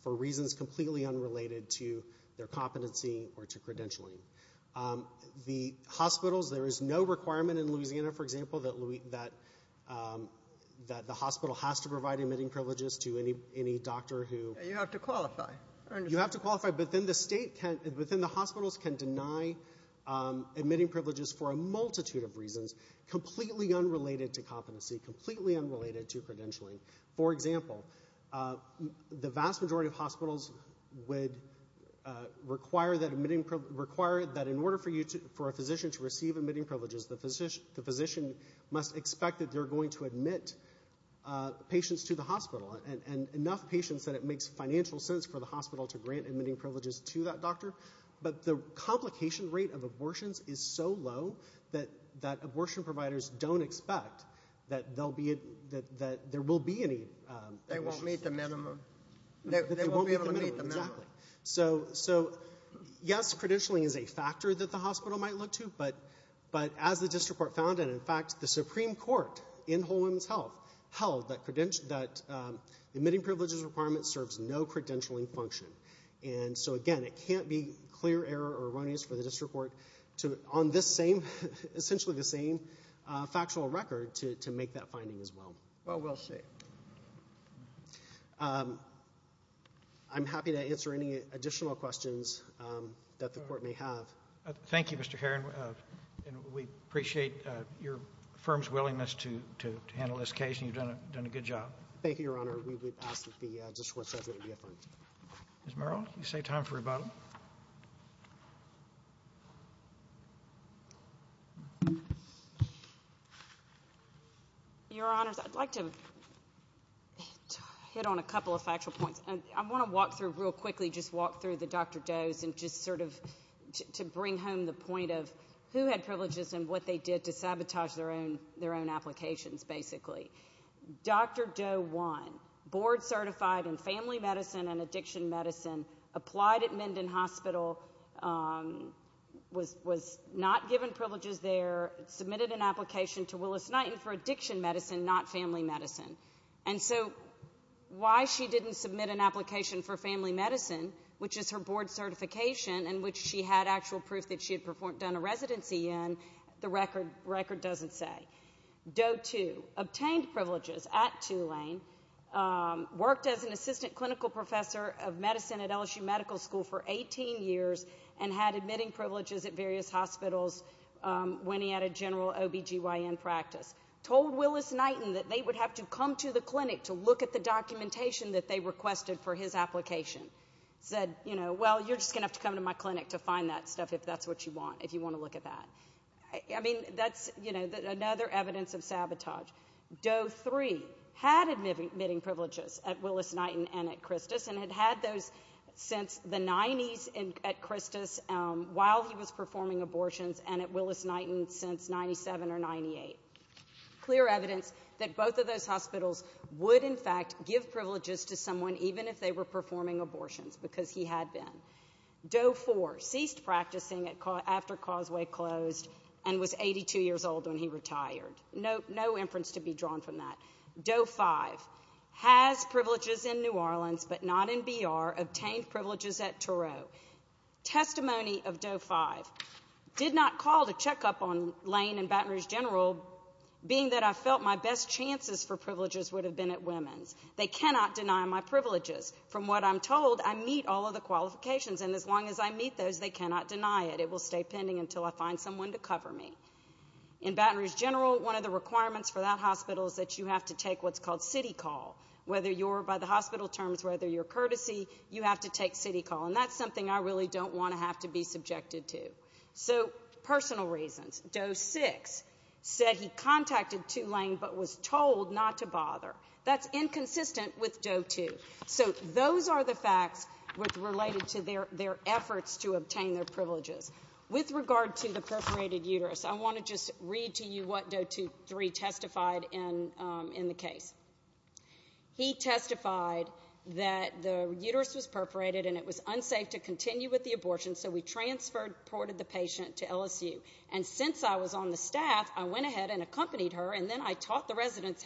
for reasons completely unrelated to their competency or to credentialing. The hospitals, there is no requirement in Louisiana, for example, that... that the hospital has to provide admitting privileges to any doctor who... You have to qualify. You have to qualify, but then the state can... but then the hospitals can deny admitting privileges for a multitude of reasons, completely unrelated to competency, completely unrelated to credentialing. For example, the vast majority of hospitals would require that admitting... require that in order for you to... for a physician to receive admitting privileges, the physician must expect that they're going to admit patients to the hospital, and enough patients that it makes financial sense for the hospital to grant admitting privileges to that doctor. But the complication rate of abortions is so low that abortion providers don't expect that there will be any... They won't meet the minimum. They won't meet the minimum, exactly. So, yes, credentialing is a factor that the hospital might look to, but as the district court found, and in fact the Supreme Court in Whole Woman's Health held that admitting privileges requirement serves no credentialing function. And so, again, it can't be clear error or erroneous for the district court to, on this same... to make that finding as well. Well, we'll see. I'm happy to answer any additional questions that the court may have. Thank you, Mr. Heron, and we appreciate your firm's willingness to handle this case, and you've done a good job. Thank you, Your Honor. We would ask that the district court... Ms. Merrill, you save time for rebuttal. Your Honors, I'd like to... hit on a couple of factual points. I want to walk through real quickly, just walk through the Dr. Doe's, and just sort of to bring home the point of who had privileges and what they did to sabotage their own applications, basically. Dr. Doe won, board certified in family medicine and addiction medicine, applied at Menden Hospital, was not given privileges there, submitted an application to Willis-Knighton for addiction medicine, not family medicine. And so why she didn't submit an application for family medicine, which is her board certification and which she had actual proof that she had done a residency in, the record doesn't say. Doe, too, obtained privileges at Tulane, worked as an assistant clinical professor of medicine at LSU Medical School for 18 years and had admitting privileges at various hospitals when he had a general OB-GYN practice. Told Willis-Knighton that they would have to come to the clinic to look at the documentation that they requested for his application. Said, you know, well, you're just going to have to come to my clinic to find that stuff if that's what you want, if you want to look at that. I mean, that's, you know, another evidence of sabotage. Doe, three, had admitting privileges at Willis-Knighton and at Christos and had had those since the 90s at Christos while he was performing abortions and at Willis-Knighton since 97 or 98. Clear evidence that both of those hospitals would, in fact, give privileges to someone even if they were performing abortions, because he had been. Doe, four, ceased practicing after Causeway closed and was 82 years old when he retired. No inference to be drawn from that. Doe, five, has privileges in New Orleans, but not in B.R., obtained privileges at Toro. Testimony of Doe, five, did not call to check up on Lane and Baton Rouge General, being that I felt my best chances for privileges would have been at women's. They cannot deny my privileges. From what I'm told, I meet all of the qualifications, and as long as I meet those, they cannot deny it. It will stay pending until I find someone to cover me. In Baton Rouge General, one of the requirements for that hospital is that you have to take what's called city call, whether you're, by the hospital terms, whether you're courtesy, you have to take city call, and that's something I really don't want to have to be subjected to. So personal reasons. Doe, six, said he contacted Tulane but was told not to bother. That's inconsistent with Doe, two. So those are the facts related to their efforts to obtain their privileges. With regard to the perforated uterus, I want to just read to you what Doe, three, testified in the case. He testified that the uterus was perforated and it was unsafe to continue with the abortion, so we transported the patient to LSU. And since I was on the staff, I went ahead and accompanied her, and then I taught the residents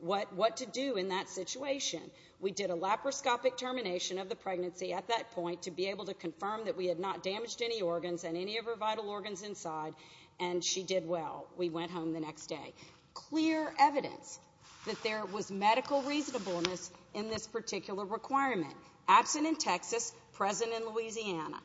what to do in that situation. We did a laparoscopic termination of the pregnancy at that point to be able to confirm that we had not damaged any organs and any of her vital organs inside, and she did well. We went home the next day. Clear evidence that there was medical reasonableness in this particular requirement. Absent in Texas, present in Louisiana.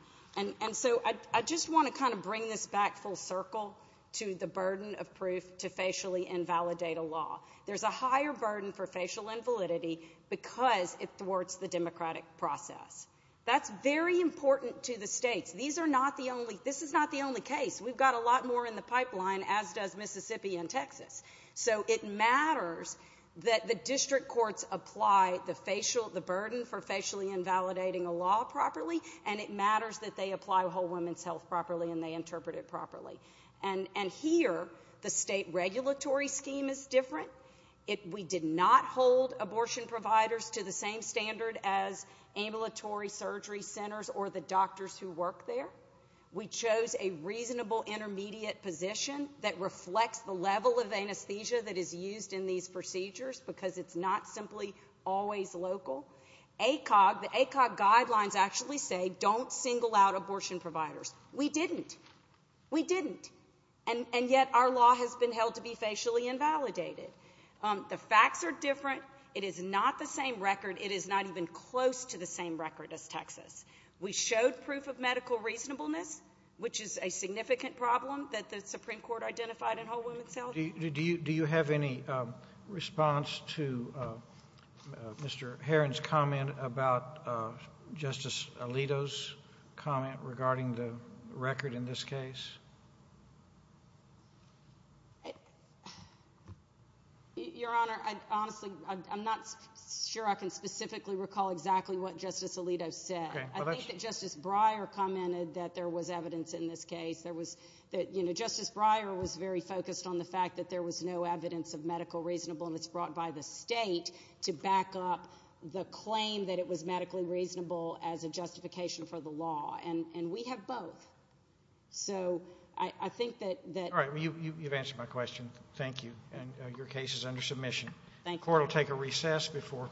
And so I just want to kind of bring this back full circle to the burden of proof to facially invalidate a law. There's a higher burden for facial invalidity because it thwarts the democratic process. That's very important to the states. These are not the only—this is not the only case. We've got a lot more in the pipeline, as does Mississippi and Texas. So it matters that the district courts apply the burden for facially invalidating a law properly, and it matters that they apply whole women's health properly and they interpret it properly. And here, the state regulatory scheme is different. We did not hold abortion providers to the same standard as ambulatory surgery centers or the doctors who work there. We chose a reasonable intermediate position that reflects the level of anesthesia that is used in these procedures because it's not simply always local. The ACOG guidelines actually say, don't single out abortion providers. We didn't. We didn't. And yet our law has been held to be facially invalidated. The facts are different. It is not the same record. It is not even close to the same record as Texas. We showed proof of medical reasonableness, which is a significant problem that the Supreme Court identified in whole women's health. Do you have any response to Mr. Heron's comment about Justice Alito's comment regarding the record in this case? Your Honor, honestly, I'm not sure I can specifically recall exactly what Justice Alito said. I think that Justice Breyer commented that there was evidence in this case. Justice Breyer was very focused on the fact that there was no evidence of medical reasonableness brought by the state to back up the claim that it was medically reasonable as a justification for the law. And we have both. So I think that... All right, you've answered my question. Thank you. And your case is under submission. The court will take a recess before...